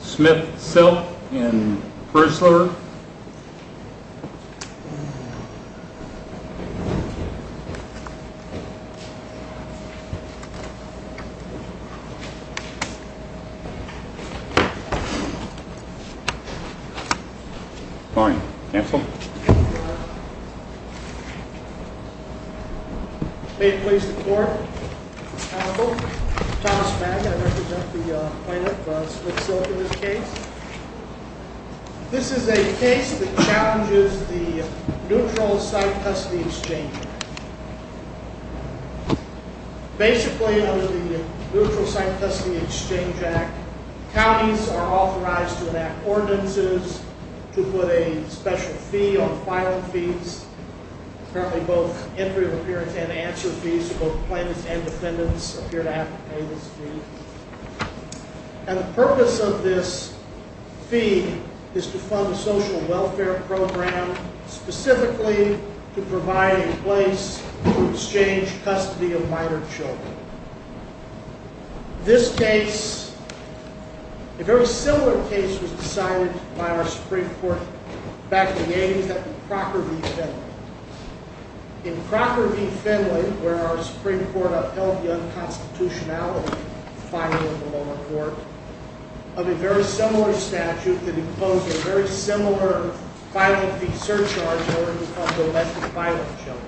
Smith-Silk and Prenzler. Pardon. Cancel. May it please the court. I'm Thomas Mack. I represent the plaintiff, Smith-Silk, in this case. This is a case that challenges the Neutral Site Custody Exchange Act. Basically, under the Neutral Site Custody Exchange Act, counties are authorized to enact ordinances, to put a special fee on filing fees. Currently, both entry of appearance and answer fees for both plaintiffs and defendants appear to have to pay this fee. And the purpose of this fee is to fund a social welfare program specifically to provide a place to exchange custody of minor children. This case, a very similar case was decided by our Supreme Court back in the 80s, that of Crocker v. Finley. In Crocker v. Finley, where our Supreme Court upheld the unconstitutionality of filing in the lower court, of a very similar statute that imposed a very similar filing fee surcharge in order to fund domestic filing of children.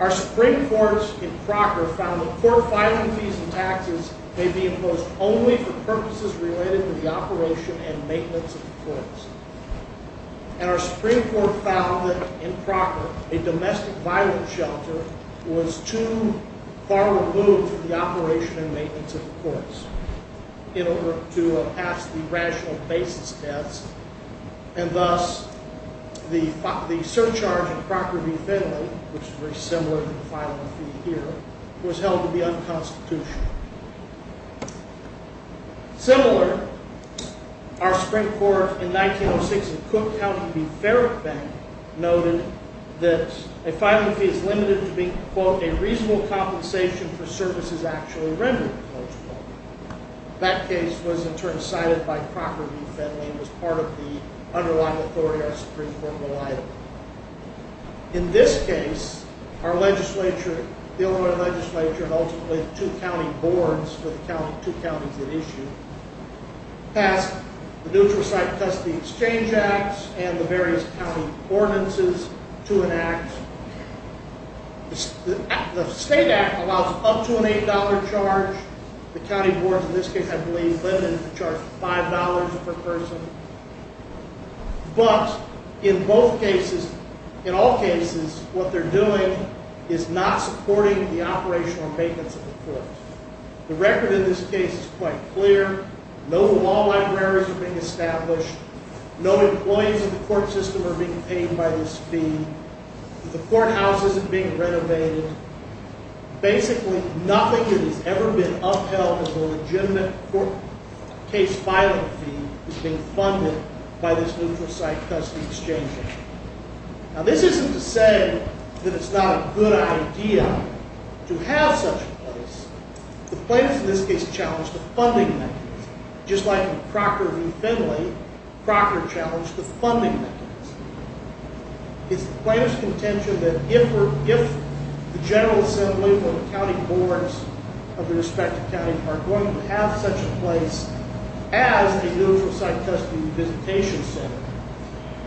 Our Supreme Court in Crocker found that court filing fees and taxes may be imposed only for purposes related to the operation and maintenance of the courts. And our Supreme Court found that, in Crocker, a domestic violence shelter was too far removed from the operation and maintenance of the courts in order to pass the rational basis test. And thus, the surcharge in Crocker v. Finley, which is very similar to the filing fee here, was held to be unconstitutional. Similar, our Supreme Court in 1906 in Cook County v. Farrock Bank noted that a filing fee is limited to being, quote, a reasonable compensation for services actually rendered, quote, unquote. That case was in turn cited by Crocker v. Finley and was part of the underlying authority our Supreme Court relied on. In this case, our legislature, the Illinois legislature, and ultimately two county boards with two counties at issue, passed the Neutral Site and Custody Exchange Act and the various county ordinances to enact. The state act allows up to an $8 charge. The county boards, in this case, I believe, limited it to charge $5 per person. But, in both cases, in all cases, what they're doing is not supporting the operation or maintenance of the courts. The record in this case is quite clear. No law libraries are being established. No employees in the court system are being paid by this fee. The courthouse isn't being renovated. Basically, nothing that has ever been upheld as a legitimate case filing fee is being funded by this Neutral Site-Custody Exchange Act. Now, this isn't to say that it's not a good idea to have such a place. The plaintiffs in this case challenged the funding mechanism. Just like in Crocker v. Finley, Crocker challenged the funding mechanism. It's the plaintiff's contention that if the General Assembly or the county boards of their respective counties are going to have such a place as a Neutral Site-Custody Visitation Center,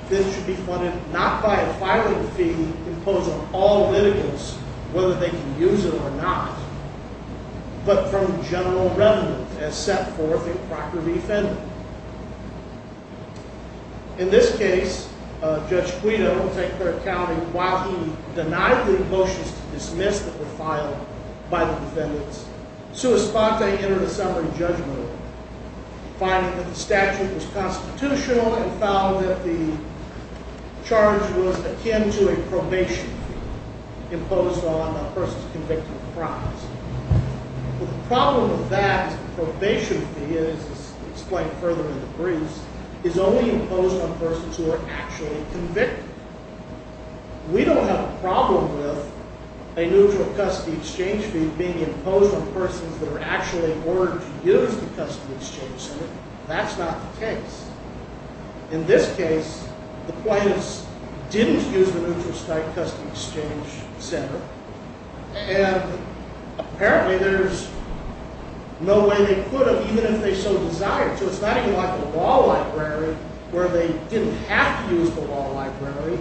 this should be funded not by a filing fee imposed on all litigants, whether they can use it or not, but from general revenue as set forth in Crocker v. Finley. In this case, Judge Guido will take care of counting. While he denied the motions to dismiss that were filed by the defendants, Sua Sponte entered a summary judgment finding that the statute was constitutional and found that the charge was akin to a probation fee imposed on a person's convicted crimes. The problem with that probation fee, as explained further in the briefs, is only imposed on persons who are actually convicted. We don't have a problem with a Neutral Site-Custody Exchange fee being imposed on persons that are actually ordered to use the Custom Exchange Center. That's not the case. In this case, the plaintiffs didn't use the Neutral Site-Custody Exchange Center. And apparently there's no way they could have, even if they so desired to. It's not even like the law library where they didn't have to use the law library,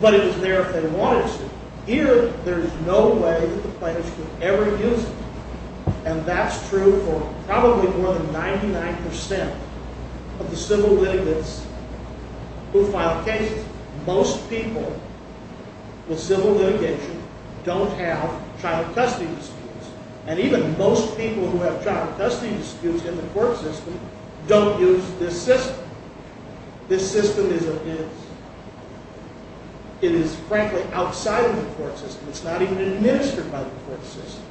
but it was there if they wanted to. Here, there's no way that the plaintiffs could ever use it. And that's true for probably more than 99% of the civil litigants who file cases. Most people with civil litigation don't have child custody disputes. And even most people who have child custody disputes in the court system don't use this system. This system is, frankly, outside of the court system. It's not even administered by the court system.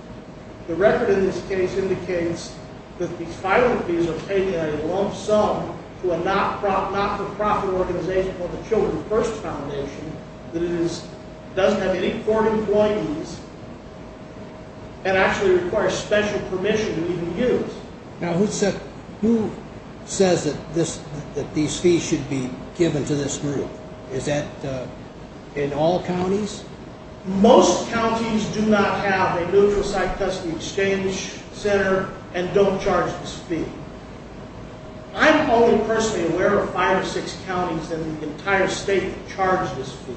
The record in this case indicates that the filing fees are paid in a lump sum to a not-for-profit organization called the Children First Foundation that doesn't have any court employees and actually requires special permission to even use. Now, who says that these fees should be given to this group? Is that in all counties? Most counties do not have a Neutral Site-Custody Exchange Center and don't charge this fee. I'm only personally aware of five or six counties in the entire state that charge this fee.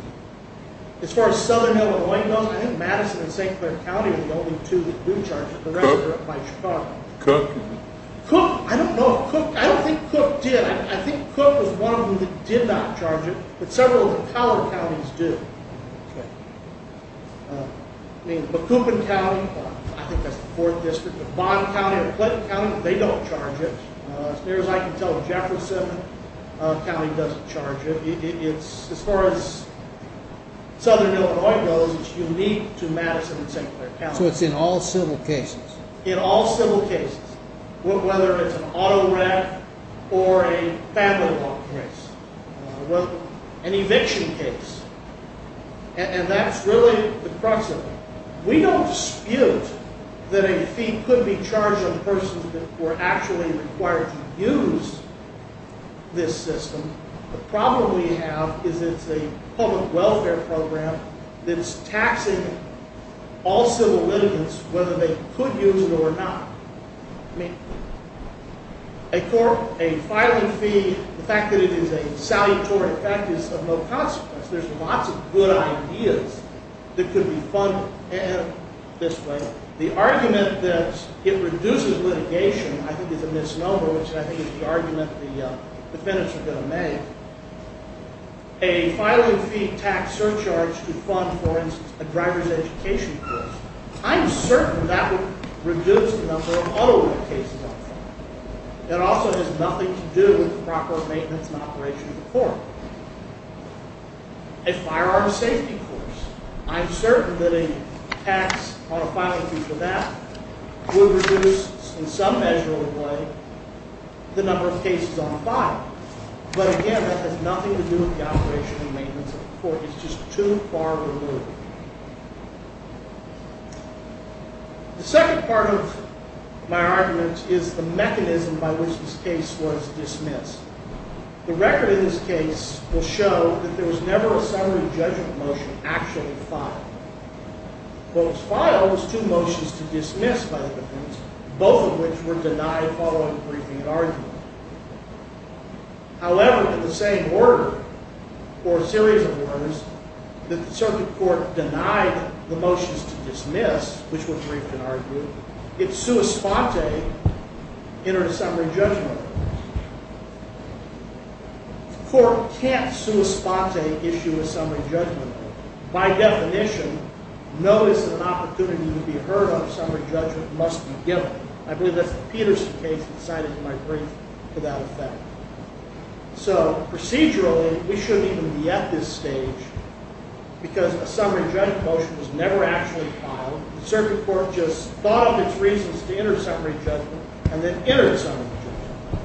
As far as southern Illinois goes, I think Madison and St. Clair County are the only two that do charge it. The rest are up by Chicago. Cook? I don't think Cook did. I think Cook was one of them that did not charge it, but several of the taller counties do. I mean, Macoupin County, I think that's the fourth district, but Bond County or Clinton County, they don't charge it. As near as I can tell, Jefferson County doesn't charge it. As far as southern Illinois goes, it's unique to Madison and St. Clair County. So it's in all civil cases? In all civil cases, whether it's an auto wreck or a family law case. An eviction case. And that's really the crux of it. We don't dispute that a fee could be charged on persons that were actually required to use this system. The problem we have is it's a public welfare program that's taxing all civil litigants whether they could use it or not. I mean, a filing fee, the fact that it is a salutary effect is of no consequence. There's lots of good ideas that could be funded this way. The argument that it reduces litigation I think is a misnomer, which I think is the argument the defendants are going to make. A filing fee tax surcharge could fund, for instance, a driver's education course. I'm certain that would reduce the number of auto wreck cases on file. It also has nothing to do with the proper maintenance and operation of the court. A firearm safety course. I'm certain that a tax on a filing fee for that would reduce in some measure or the way the number of cases on file. But again, that has nothing to do with the operation and maintenance of the court. It's just too far removed. The second part of my argument is the mechanism by which this case was dismissed. The record in this case will show that there was never a summary judgment motion actually filed. What was filed was two motions to dismiss by the defendants, both of which were denied following briefing and argument. However, in the same order, or series of orders, that the circuit court denied the motions to dismiss, which were briefed and argued, it sua sponte entered a summary judgment. The court can't sua sponte issue a summary judgment. By definition, notice of an opportunity to be heard on a summary judgment must be given. I believe that's the Peterson case that cited in my brief for that effect. So procedurally, we shouldn't even be at this stage because a summary judgment motion was never actually filed. The circuit court just thought of its reasons to enter a summary judgment and then entered a summary judgment.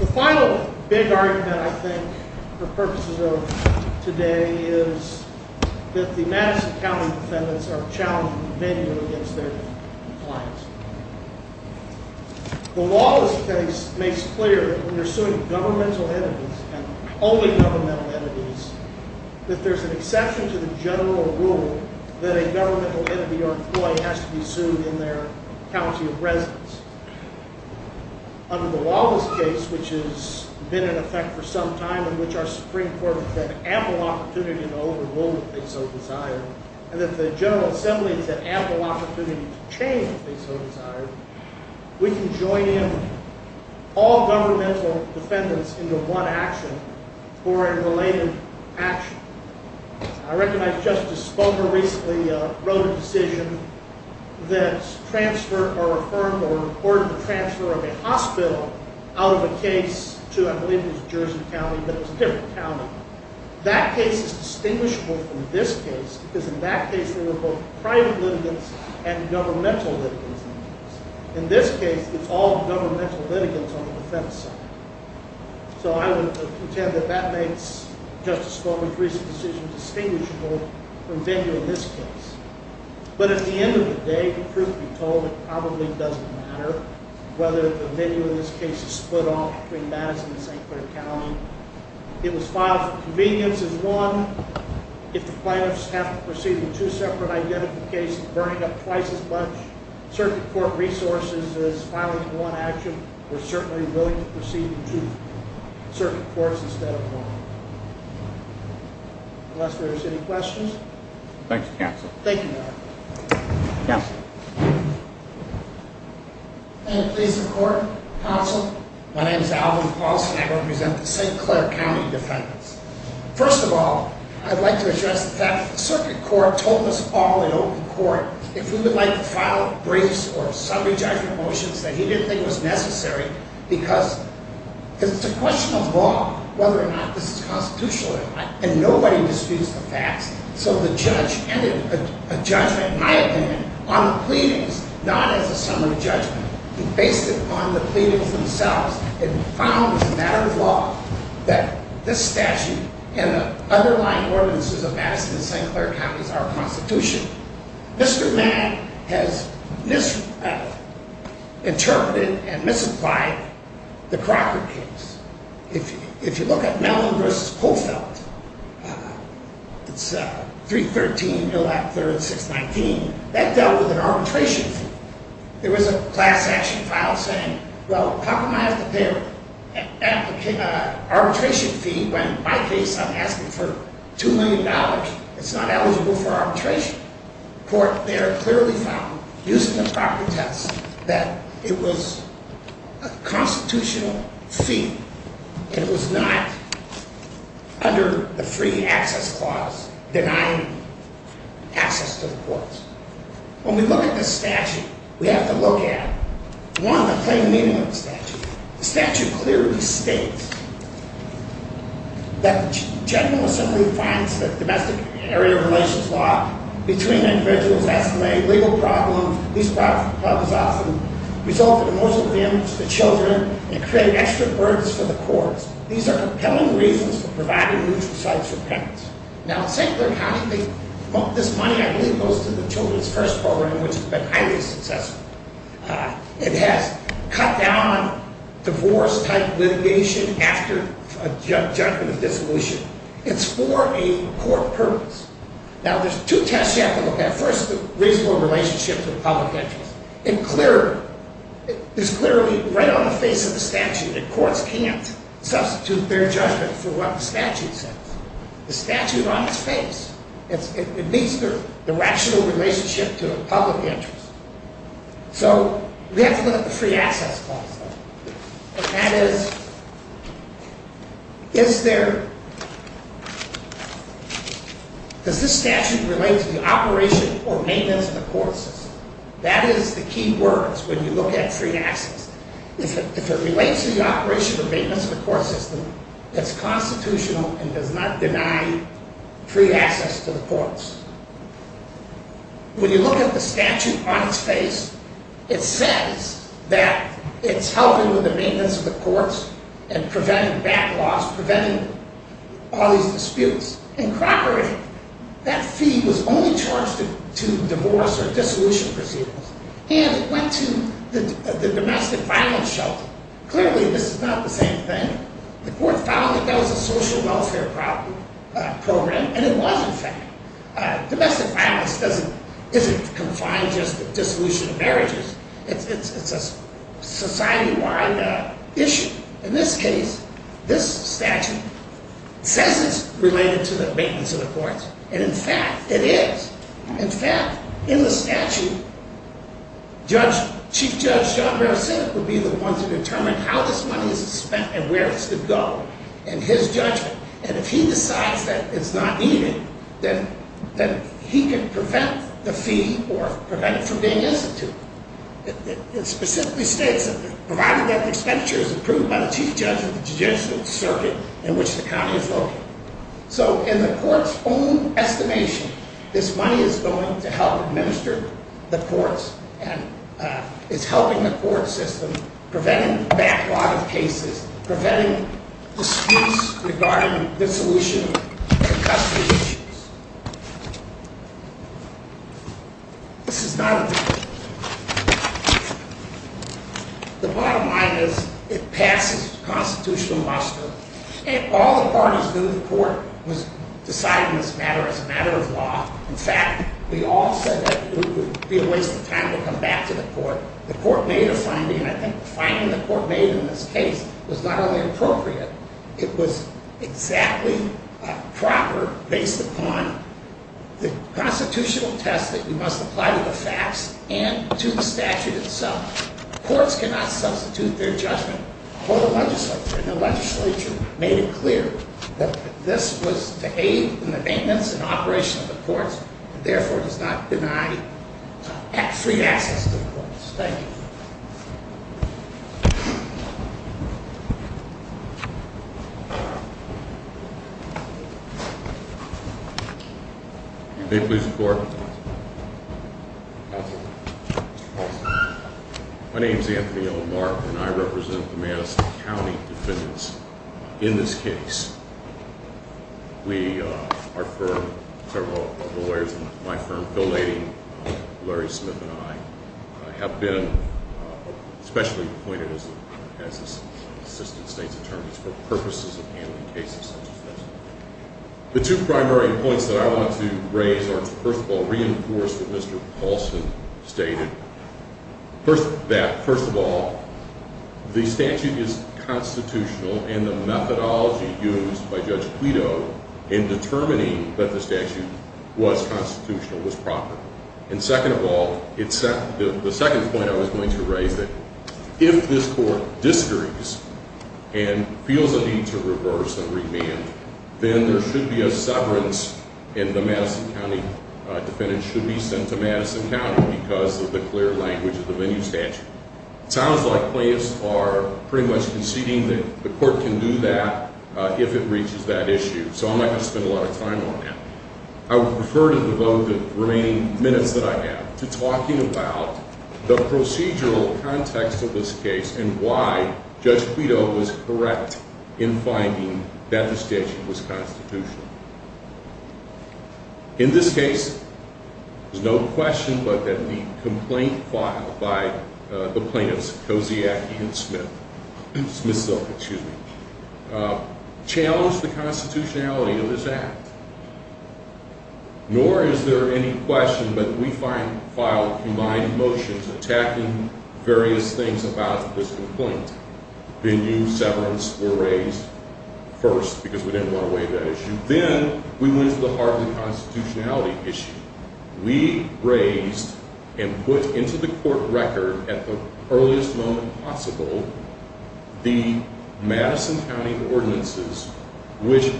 The final big argument, I think, for purposes of today is that the Madison County defendants are challenging the venue against their compliance. The law of this case makes clear that when you're suing governmental entities and only governmental entities, that there's an exception to the general rule that a governmental entity or employee has to be sued in their county of residence. Under the Wallace case, which has been in effect for some time and which our Supreme Court has had ample opportunity to overrule, if they so desire, and that the General Assembly has had ample opportunity to change, if they so desire, we can join in all governmental defendants into one action for a related action. I recognize Justice Sponger recently wrote a decision that transferred or referred or ordered the transfer of a hospital out of a case to, I believe it was Jersey County, but it was a different county. That case is distinguishable from this case because in that case there were both private litigants and governmental litigants. In this case, it's all governmental litigants on the defense side. So I would contend that that makes Justice Sponger's recent decision distinguishable from venue in this case. But at the end of the day, truth be told, it probably doesn't matter whether the venue in this case is split off between Madison and St. Clair County. It was filed for convenience as one. If the plaintiffs have to proceed with two separate identifications, burning up twice as much circuit court resources as filing one action, we're certainly willing to proceed with two circuit courts instead of one. Unless there's any questions. Thank you, Counsel. Thank you. Yes. May it please the Court, Counsel. My name is Alvin Paulson. I represent the St. Clair County defendants. First of all, I'd like to address the fact that the circuit court told us all in open court if we would like to file briefs or summary judgment motions that he didn't think was necessary because it's a question of law whether or not this is constitutional or not. And nobody disputes the facts. So the judge ended a judgment, in my opinion, on the pleadings, not as a summary judgment. He based it on the pleadings themselves and found as a matter of law that this statute and the underlying ordinances of Madison and St. Clair County are constitutional. Mr. Mann has misinterpreted and misapplied the Crocker case. If you look at Mellon v. Polfeldt, it's 313.619. That dealt with an arbitration fee. There was a class action file saying, well, compromise the arbitration fee when in my case I'm asking for $2 million. It's not eligible for arbitration. The court there clearly found, using the property test, that it was a constitutional fee and it was not under the free access clause denying access to the courts. When we look at this statute, we have to look at, one, the plain meaning of the statute. The statute clearly states that the General Assembly finds that domestic area relations law between individuals estimated legal problems. These problems often result in emotional damage to children and create extra burdens for the courts. These are compelling reasons for providing mutual sites for parents. Now, in St. Clair County, this money, I believe, goes to the Children's First Program, which has been highly successful. It has cut down on divorce-type litigation after a judgment of dissolution. It's for a court purpose. Now, there's two tests you have to look at. First, the reasonable relationship to the public interest. It's clearly right on the face of the statute that courts can't substitute their judgment for what the statute says. The statute on its face, it meets the rational relationship to the public interest. So, we have to look at the free access clause, though. And that is, does this statute relate to the operation or maintenance of the court system? That is the key words when you look at free access. If it relates to the operation or maintenance of the court system, it's constitutional and does not deny free access to the courts. When you look at the statute on its face, it says that it's helping with the maintenance of the courts and preventing backlogs, preventing all these disputes. In Crocker, that fee was only charged to divorce or dissolution proceedings. And it went to the domestic violence shelter. Clearly, this is not the same thing. The court found that that was a social welfare program, and it was, in fact. Domestic violence doesn't, isn't confined just to dissolution of marriages. It's a society-wide issue. In this case, this statute says it's related to the maintenance of the courts. And, in fact, it is. In fact, in the statute, Judge, Chief Judge John Barrett said it would be the one to determine how this money is spent and where it should go in his judgment. And if he decides that it's not needed, then he can prevent the fee or prevent it from being instituted. It specifically states, provided that the expenditure is approved by the Chief Judge of the judicial circuit in which the county is located. So, in the court's own estimation, this money is going to help administer the courts and is helping the court system, preventing a backlog of cases, preventing disputes regarding dissolution of custody issues. This is not a different case. The bottom line is it passes constitutional muster. And all the parties knew, the court was deciding this matter as a matter of law. In fact, we all said that it would be a waste of time to come back to the court. The court made a finding, and I think the finding the court made in this case was not only appropriate, it was exactly proper based upon the constitutional test that you must apply to the facts and to the statute itself. Courts cannot substitute their judgment for the legislature. And the legislature made it clear that this was to aid in the maintenance and operation of the courts, and therefore does not deny free access to the courts. Thank you. May it please the court. Counsel. My name is Anthony L. Mark, and I represent the Madison County defendants in this case. We, our firm, several lawyers in my firm, Phil Leidy, Larry Smith, and I, have been specially appointed as assistant state's attorneys for purposes of handling cases such as this. The two primary points that I want to raise are, first of all, reinforce what Mr. Paulson stated, that first of all, the statute is constitutional, and the methodology used by Judge Guido in determining that the statute was constitutional was proper. And second of all, the second point I was going to raise, that if this court disagrees and feels a need to reverse and remand, then there should be a severance, and the Madison County defendant should be sent to Madison County because of the clear language of the venue statute. It sounds like plaintiffs are pretty much conceding that the court can do that if it reaches that issue. So I'm not going to spend a lot of time on that. I would prefer to devote the remaining minutes that I have to talking about the procedural context of this case and why Judge Guido was correct in finding that the statute was constitutional. In this case, there's no question but that the complaint filed by the plaintiffs, Kosiak and Smith, Smith-Silk, excuse me, challenged the constitutionality of this act. Nor is there any question but we filed humane motions attacking various things about this complaint. Venue severance were raised first because we didn't want to waive that issue. Then we went to the Harvard constitutionality issue. We raised and put into the court record at the earliest moment possible the Madison County ordinances which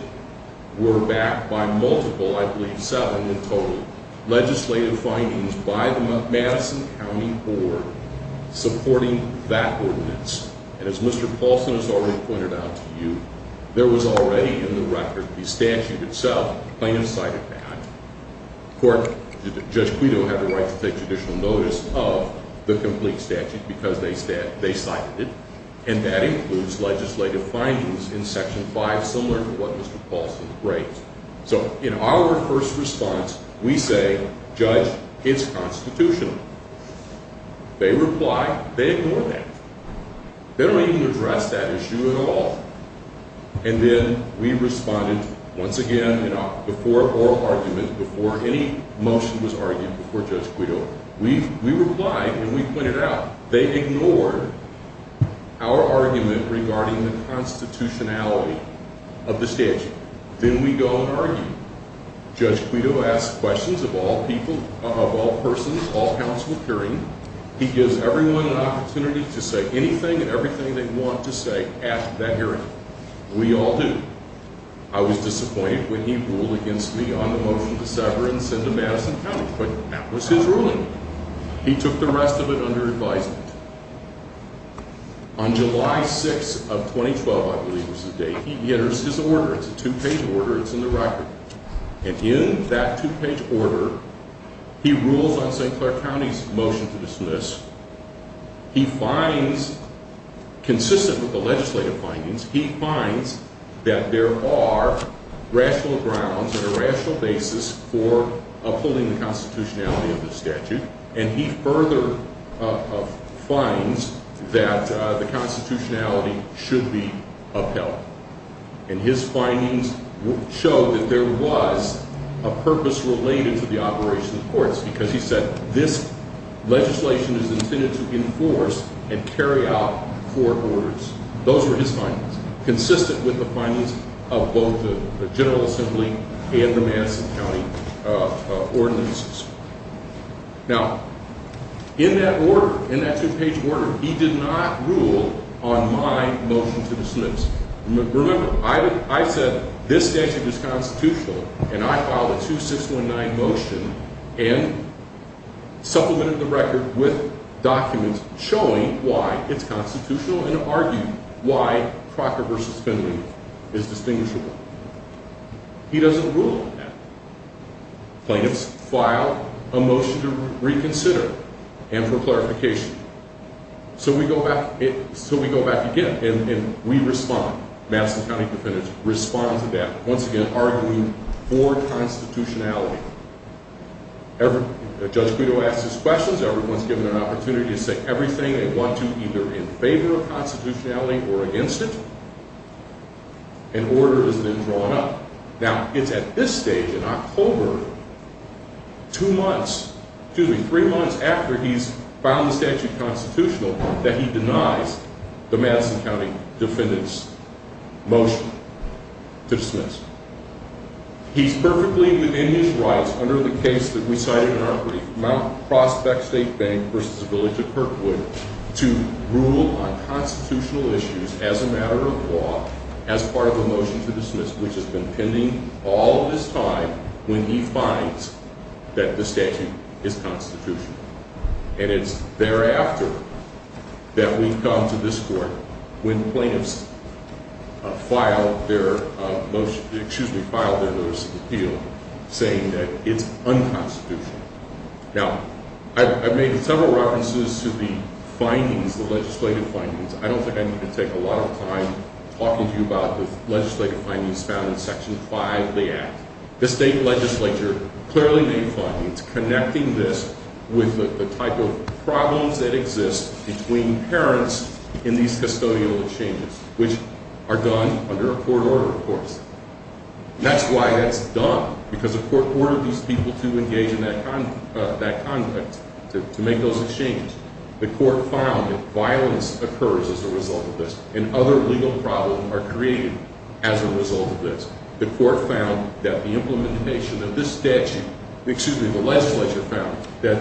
were backed by multiple, I believe seven in total, legislative findings by the Madison County Board supporting that ordinance. And as Mr. Paulson has already pointed out to you, there was already in the record the statute itself. The plaintiffs cited that. Of course, Judge Guido had the right to take judicial notice of the complete statute because they cited it. And that includes legislative findings in Section 5 similar to what Mr. Paulson raised. So in our first response, we say, Judge, it's constitutional. They reply, they ignore that. They don't even address that issue at all. And then we responded once again before oral argument, before any motion was argued before Judge Guido. We replied and we pointed out they ignored our argument regarding the constitutionality of the statute. Then we go and argue. Judge Guido asks questions of all people, of all persons, all counsel appearing. He gives everyone an opportunity to say anything and everything they want to say at that hearing. We all do. I was disappointed when he ruled against me on the motion to sever and send to Madison County. But that was his ruling. He took the rest of it under advisement. On July 6th of 2012, I believe was the date, he enters his order. It's a two-page order. It's in the record. And in that two-page order, he rules on St. Clair County's motion to dismiss. He finds, consistent with the legislative findings, he finds that there are rational grounds and a rational basis for upholding the constitutionality of the statute. And he further finds that the constitutionality should be upheld. And his findings show that there was a purpose related to the operation of the courts because he said this legislation is intended to enforce and carry out four orders. Those were his findings, consistent with the findings of both the General Assembly and the Madison County ordinances. Now, in that order, in that two-page order, he did not rule on my motion to dismiss. Remember, I said this statute is constitutional. And I filed a 2619 motion and supplemented the record with documents showing why it's constitutional and argued why Crocker v. Finley is distinguishable. He doesn't rule on that. Plaintiffs filed a motion to reconsider and for clarification. So we go back again, and we respond. Madison County defendants respond to that, once again, arguing for constitutionality. Judge Guido asks his questions. Everyone's given an opportunity to say everything they want to, either in favor of constitutionality or against it. An order is then drawn up. Now, it's at this stage, in October, two months, excuse me, three months after he's found the statute constitutional that he denies the Madison County defendants' motion to dismiss. He's perfectly within his rights under the case that we cited in our brief, Mount Prospect State Bank v. Village of Kirkwood, to rule on constitutional issues as a matter of law as part of a motion to dismiss, which has been pending all of this time when he finds that the statute is constitutional. And it's thereafter that we've gone to this Court when plaintiffs filed their motion, excuse me, filed their notice of appeal, saying that it's unconstitutional. Now, I've made several references to the findings, the legislative findings. I don't think I need to take a lot of time talking to you about the legislative findings found in Section 5 of the Act. The state legislature clearly made findings connecting this with the type of problems that exist between parents in these custodial exchanges, which are done under a court order, of course. That's why it's done, because the court ordered these people to engage in that conduct, to make those exchanges. The court found that violence occurs as a result of this, and other legal problems are created as a result of this. The court found that the implementation of this statute, excuse me, the legislature found that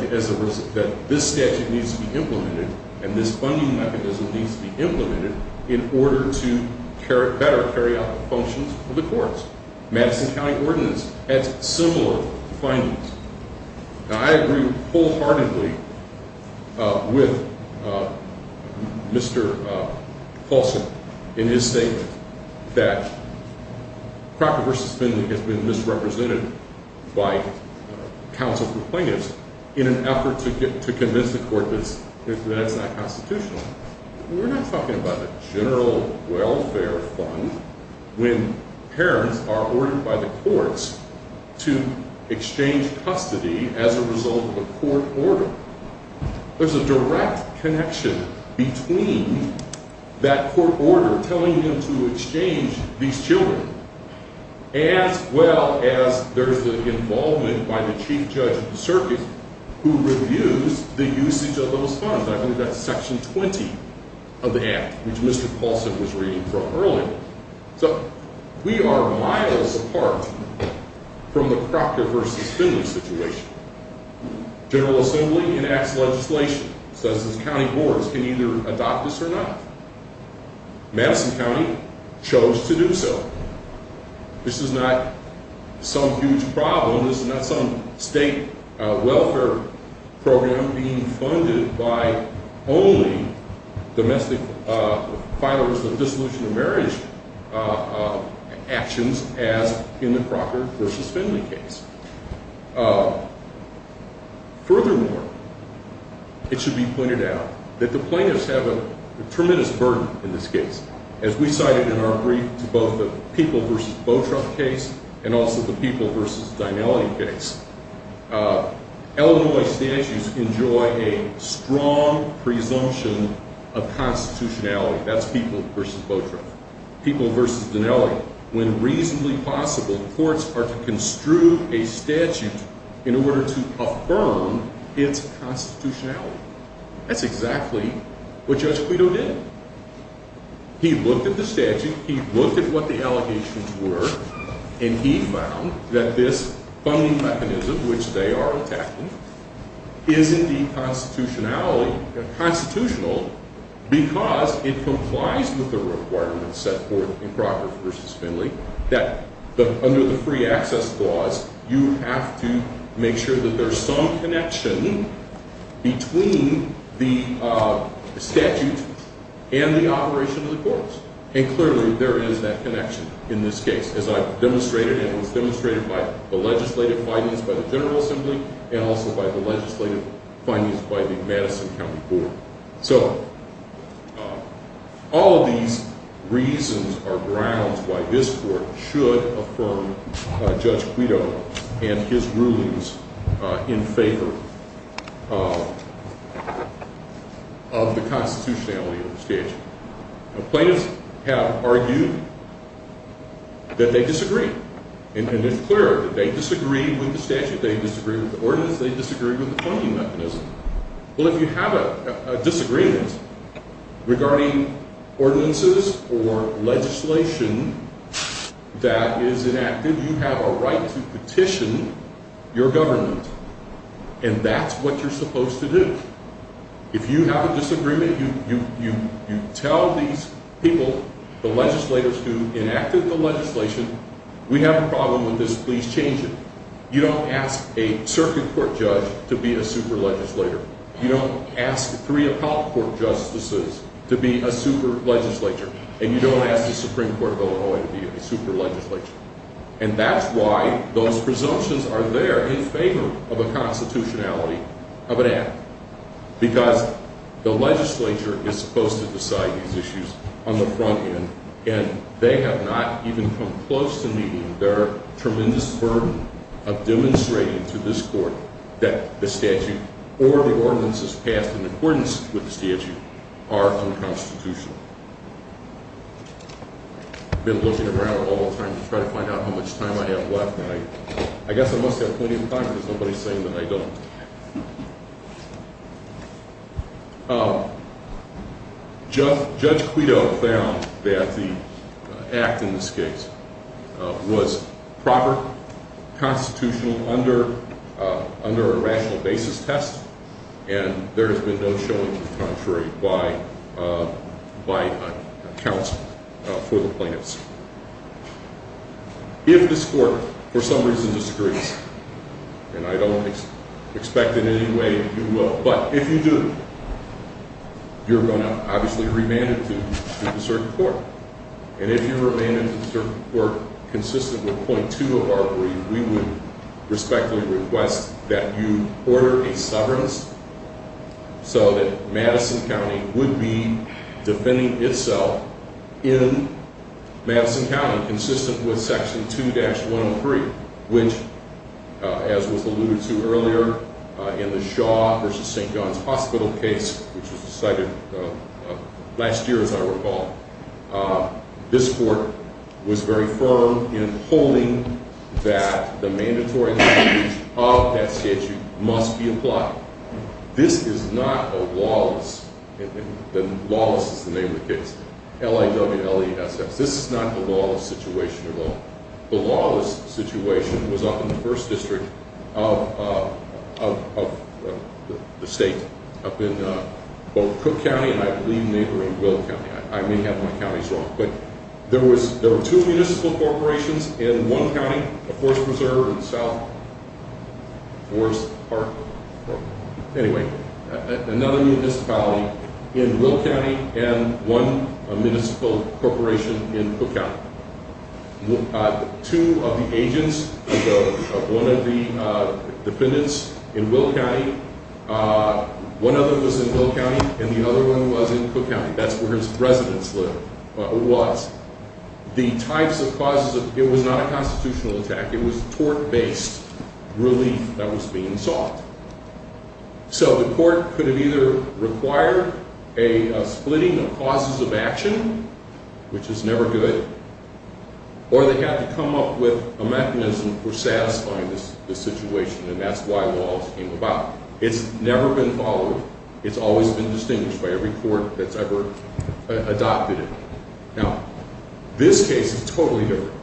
this statute needs to be implemented, and this funding mechanism needs to be implemented in order to better carry out the functions of the courts. Madison County Ordinance adds similar findings. Now, I agree wholeheartedly with Mr. Paulson in his statement that property versus spending has been misrepresented by counsel for plaintiffs in an effort to convince the court that that's not constitutional. We're not talking about a general welfare fund when parents are ordered by the courts to exchange custody as a result of a court order. There's a direct connection between that court order telling them to exchange these children, as well as there's the involvement by the chief judge of the circuit who reviews the usage of those funds. I believe that's Section 20 of the Act, which Mr. Paulson was reading from earlier. So we are miles apart from the property versus spending situation. General Assembly enacts legislation, says its county boards can either adopt this or not. Madison County chose to do so. This is not some huge problem. This is not some state welfare program being funded by only domestic filers of dissolution of marriage actions as in the Crocker versus Finley case. Furthermore, it should be pointed out that the plaintiffs have a tremendous burden in this case. As we cited in our brief to both the People versus Botrup case and also the People versus Dinelli case, Illinois statutes enjoy a strong presumption of constitutionality. That's People versus Botrup. People versus Dinelli. When reasonably possible, courts are to construe a statute in order to affirm its constitutionality. That's exactly what Judge Quito did. He looked at the statute. He looked at what the allegations were. And he found that this funding mechanism, which they are attacking, is indeed constitutional because it complies with the requirements set forth in Crocker versus Finley, that under the free access clause, you have to make sure that there's some connection between the statute and the operation of the courts. And clearly, there is that connection in this case, as I've demonstrated and was demonstrated by the legislative findings by the General Assembly and also by the legislative findings by the Madison County Court. So all of these reasons are grounds why this court should affirm Judge Quito and his rulings in favor of the constitutionality of the statute. Plaintiffs have argued that they disagree. And it's clear that they disagree with the statute. They disagree with the ordinance. They disagree with the funding mechanism. Well, if you have a disagreement regarding ordinances or legislation that is enacted, you have a right to petition your government. And that's what you're supposed to do. If you have a disagreement, you tell these people, the legislators who enacted the legislation, we have a problem with this, please change it. You don't ask a circuit court judge to be a super legislator. You don't ask three appellate court justices to be a super legislator. And you don't ask the Supreme Court of Illinois to be a super legislator. And that's why those presumptions are there in favor of the constitutionality of an act. Because the legislature is supposed to decide these issues on the front end. And they have not even come close to meeting their tremendous burden of demonstrating to this court that the statute or the ordinances passed in accordance with the statute are unconstitutional. I've been looking around all the time to try to find out how much time I have left. I guess I must have plenty of time because nobody is saying that I don't. Judge Quito found that the act in this case was proper, constitutional, under a rational basis test. And there has been no showing to the contrary by counsel for the plaintiffs. If this court for some reason disagrees, and I don't expect in any way you will, but if you do, you're going to obviously remand it to the circuit court. And if you remand it to the circuit court consistent with point two of our brief, we would respectfully request that you order a severance so that Madison County would be defending itself in Madison County, consistent with section 2-103, which, as was alluded to earlier, in the Shaw v. St. John's Hospital case, which was decided last year as I recall, this court was very firm in holding that the mandatory language of that statute must be applied. This is not a lawless, and lawless is the name of the case, L-I-W-L-E-S-S. This is not a lawless situation at all. The lawless situation was up in the first district of the state, up in both Cook County and I believe neighboring Will County. I may have my counties wrong. But there were two municipal corporations in one county, Forest Preserve in South Forest Park. Anyway, another municipality in Will County and one municipal corporation in Cook County. Two of the agents of one of the defendants in Will County, one of them was in Will County and the other one was in Cook County. That's where his residence was. The types of causes, it was not a constitutional attack. It was tort-based relief that was being sought. So the court could have either required a splitting of causes of action, which is never good, or they had to come up with a mechanism for satisfying this situation, and that's why lawless came about. It's never been followed. It's always been distinguished by every court that's ever adopted it. Now, this case is totally different.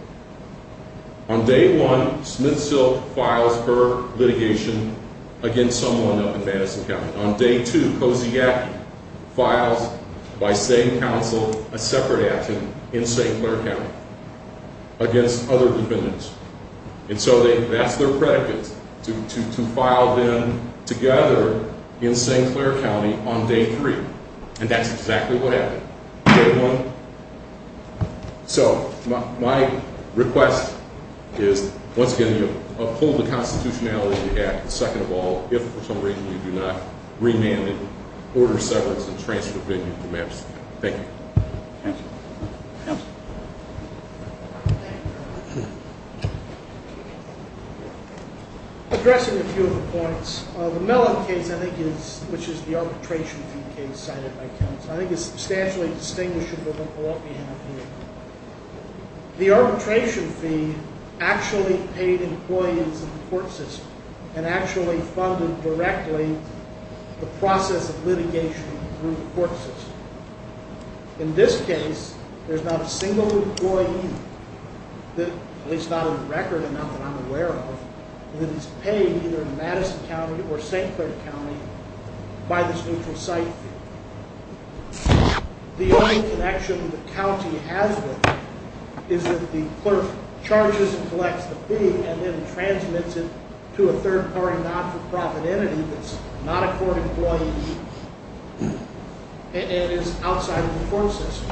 On day one, Smith-Silk files her litigation against someone up in Madison County. On day two, Kosiak files, by same counsel, a separate action in St. Clair County against other defendants. And so that's their predicate, to file them together in St. Clair County on day three. And that's exactly what happened. Day one. So my request is, once again, you uphold the constitutionality of the act, second of all, if for some reason you do not remand it, order severance, and transfer venue to Madison. Thank you. Counsel. Counsel. Addressing a few of the points. The Mellon case, I think is, which is the arbitration fee case cited by counsel, I think is substantially distinguishable from all the other cases. The arbitration fee actually paid employees in the court system and actually funded directly the process of litigation through the court system. In this case, there's not a single employee, at least not in the record amount that I'm aware of, that is paid either in Madison County or St. Clair County by this neutral site fee. The only connection the county has with it is that the clerk charges and collects the fee and then transmits it to a third-party not-for-profit entity that's not a court employee and is outside of the court system.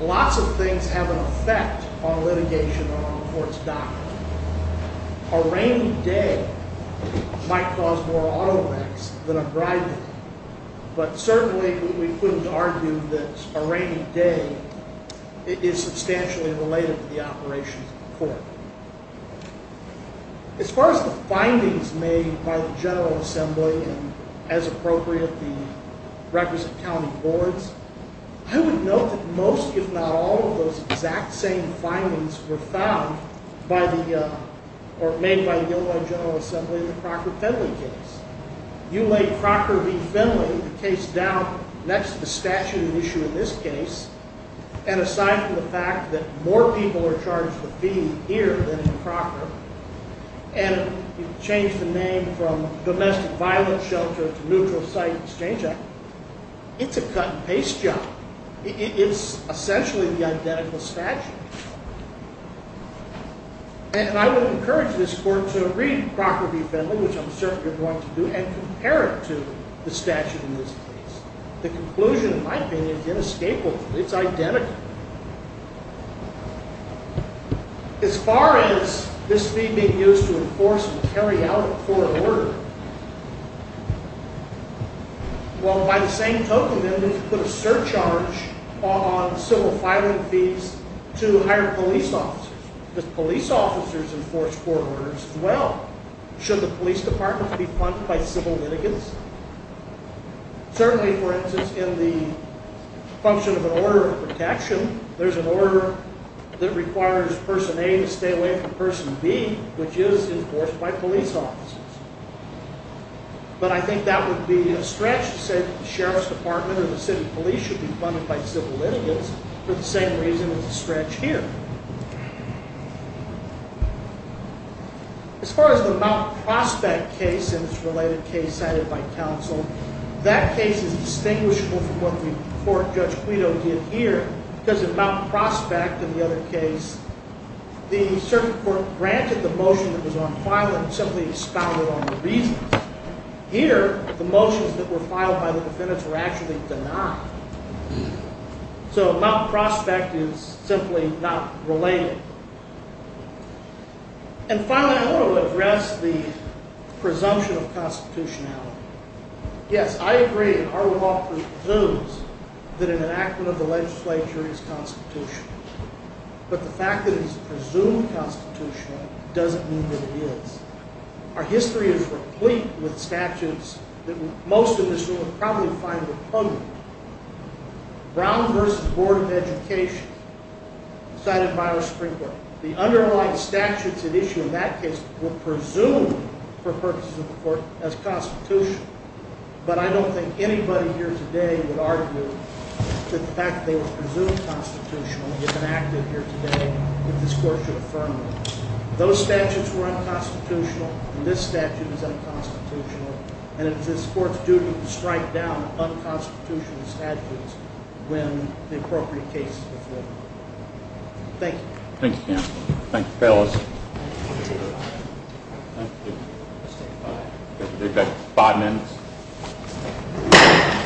Lots of things have an effect on litigation or on the court's doctrine. A rainy day might cause more automax than a bribery, but certainly we couldn't argue that a rainy day is substantially related to the operations of the court. As far as the findings made by the General Assembly and, as appropriate, the requisite county boards, I would note that most, if not all, of those exact same findings were found or made by the Illinois General Assembly in the Crocker-Finley case. You lay Crocker v. Finley, the case down next to the statute at issue in this case, and aside from the fact that more people are charged a fee here than in Crocker, and you change the name from Domestic Violence Shelter to Neutral Site Exchange Act, it's a cut-and-paste job. It is essentially the identical statute. And I would encourage this court to read Crocker v. Finley, which I'm certain you're going to do, and compare it to the statute in this case. The conclusion, in my opinion, is inescapable. It's identical. As far as this fee being used to enforce and carry out a court order, well, by the same token, then, to put a surcharge on civil filing fees to hire police officers. Do police officers enforce court orders as well? Should the police departments be funded by civil litigants? Certainly, for instance, in the function of an order of protection, there's an order that requires Person A to stay away from Person B, which is enforced by police officers. But I think that would be a stretch to say that the sheriff's department or the city police should be funded by civil litigants, for the same reason it's a stretch here. As far as the Mount Prospect case and its related case cited by counsel, that case is distinguishable from what the court, Judge Quito, did here, because in Mount Prospect and the other case, the circuit court granted the motion that was on file and simply expounded on the reasons. Here, the motions that were filed by the defendants were actually denied. So Mount Prospect is simply not related. And finally, I want to address the presumption of constitutionality. Yes, I agree, our law presumes that an enactment of the legislature is constitutional. But the fact that it's presumed constitutional doesn't mean that it is. Our history is replete with statutes that most of us will probably find repugnant. Brown v. Board of Education, cited by our Supreme Court, the underlying statutes at issue in that case were presumed, for purposes of the court, as constitutional. But I don't think anybody here today would argue that the fact that they were presumed constitutional in the enactment here today, that this court should affirm them. Those statutes were unconstitutional, and this statute is unconstitutional. And it's this court's duty to strike down unconstitutional statutes when the appropriate case is before it. Thank you. Thank you, counsel. Thank you, fellas. Thank you. We've got five minutes.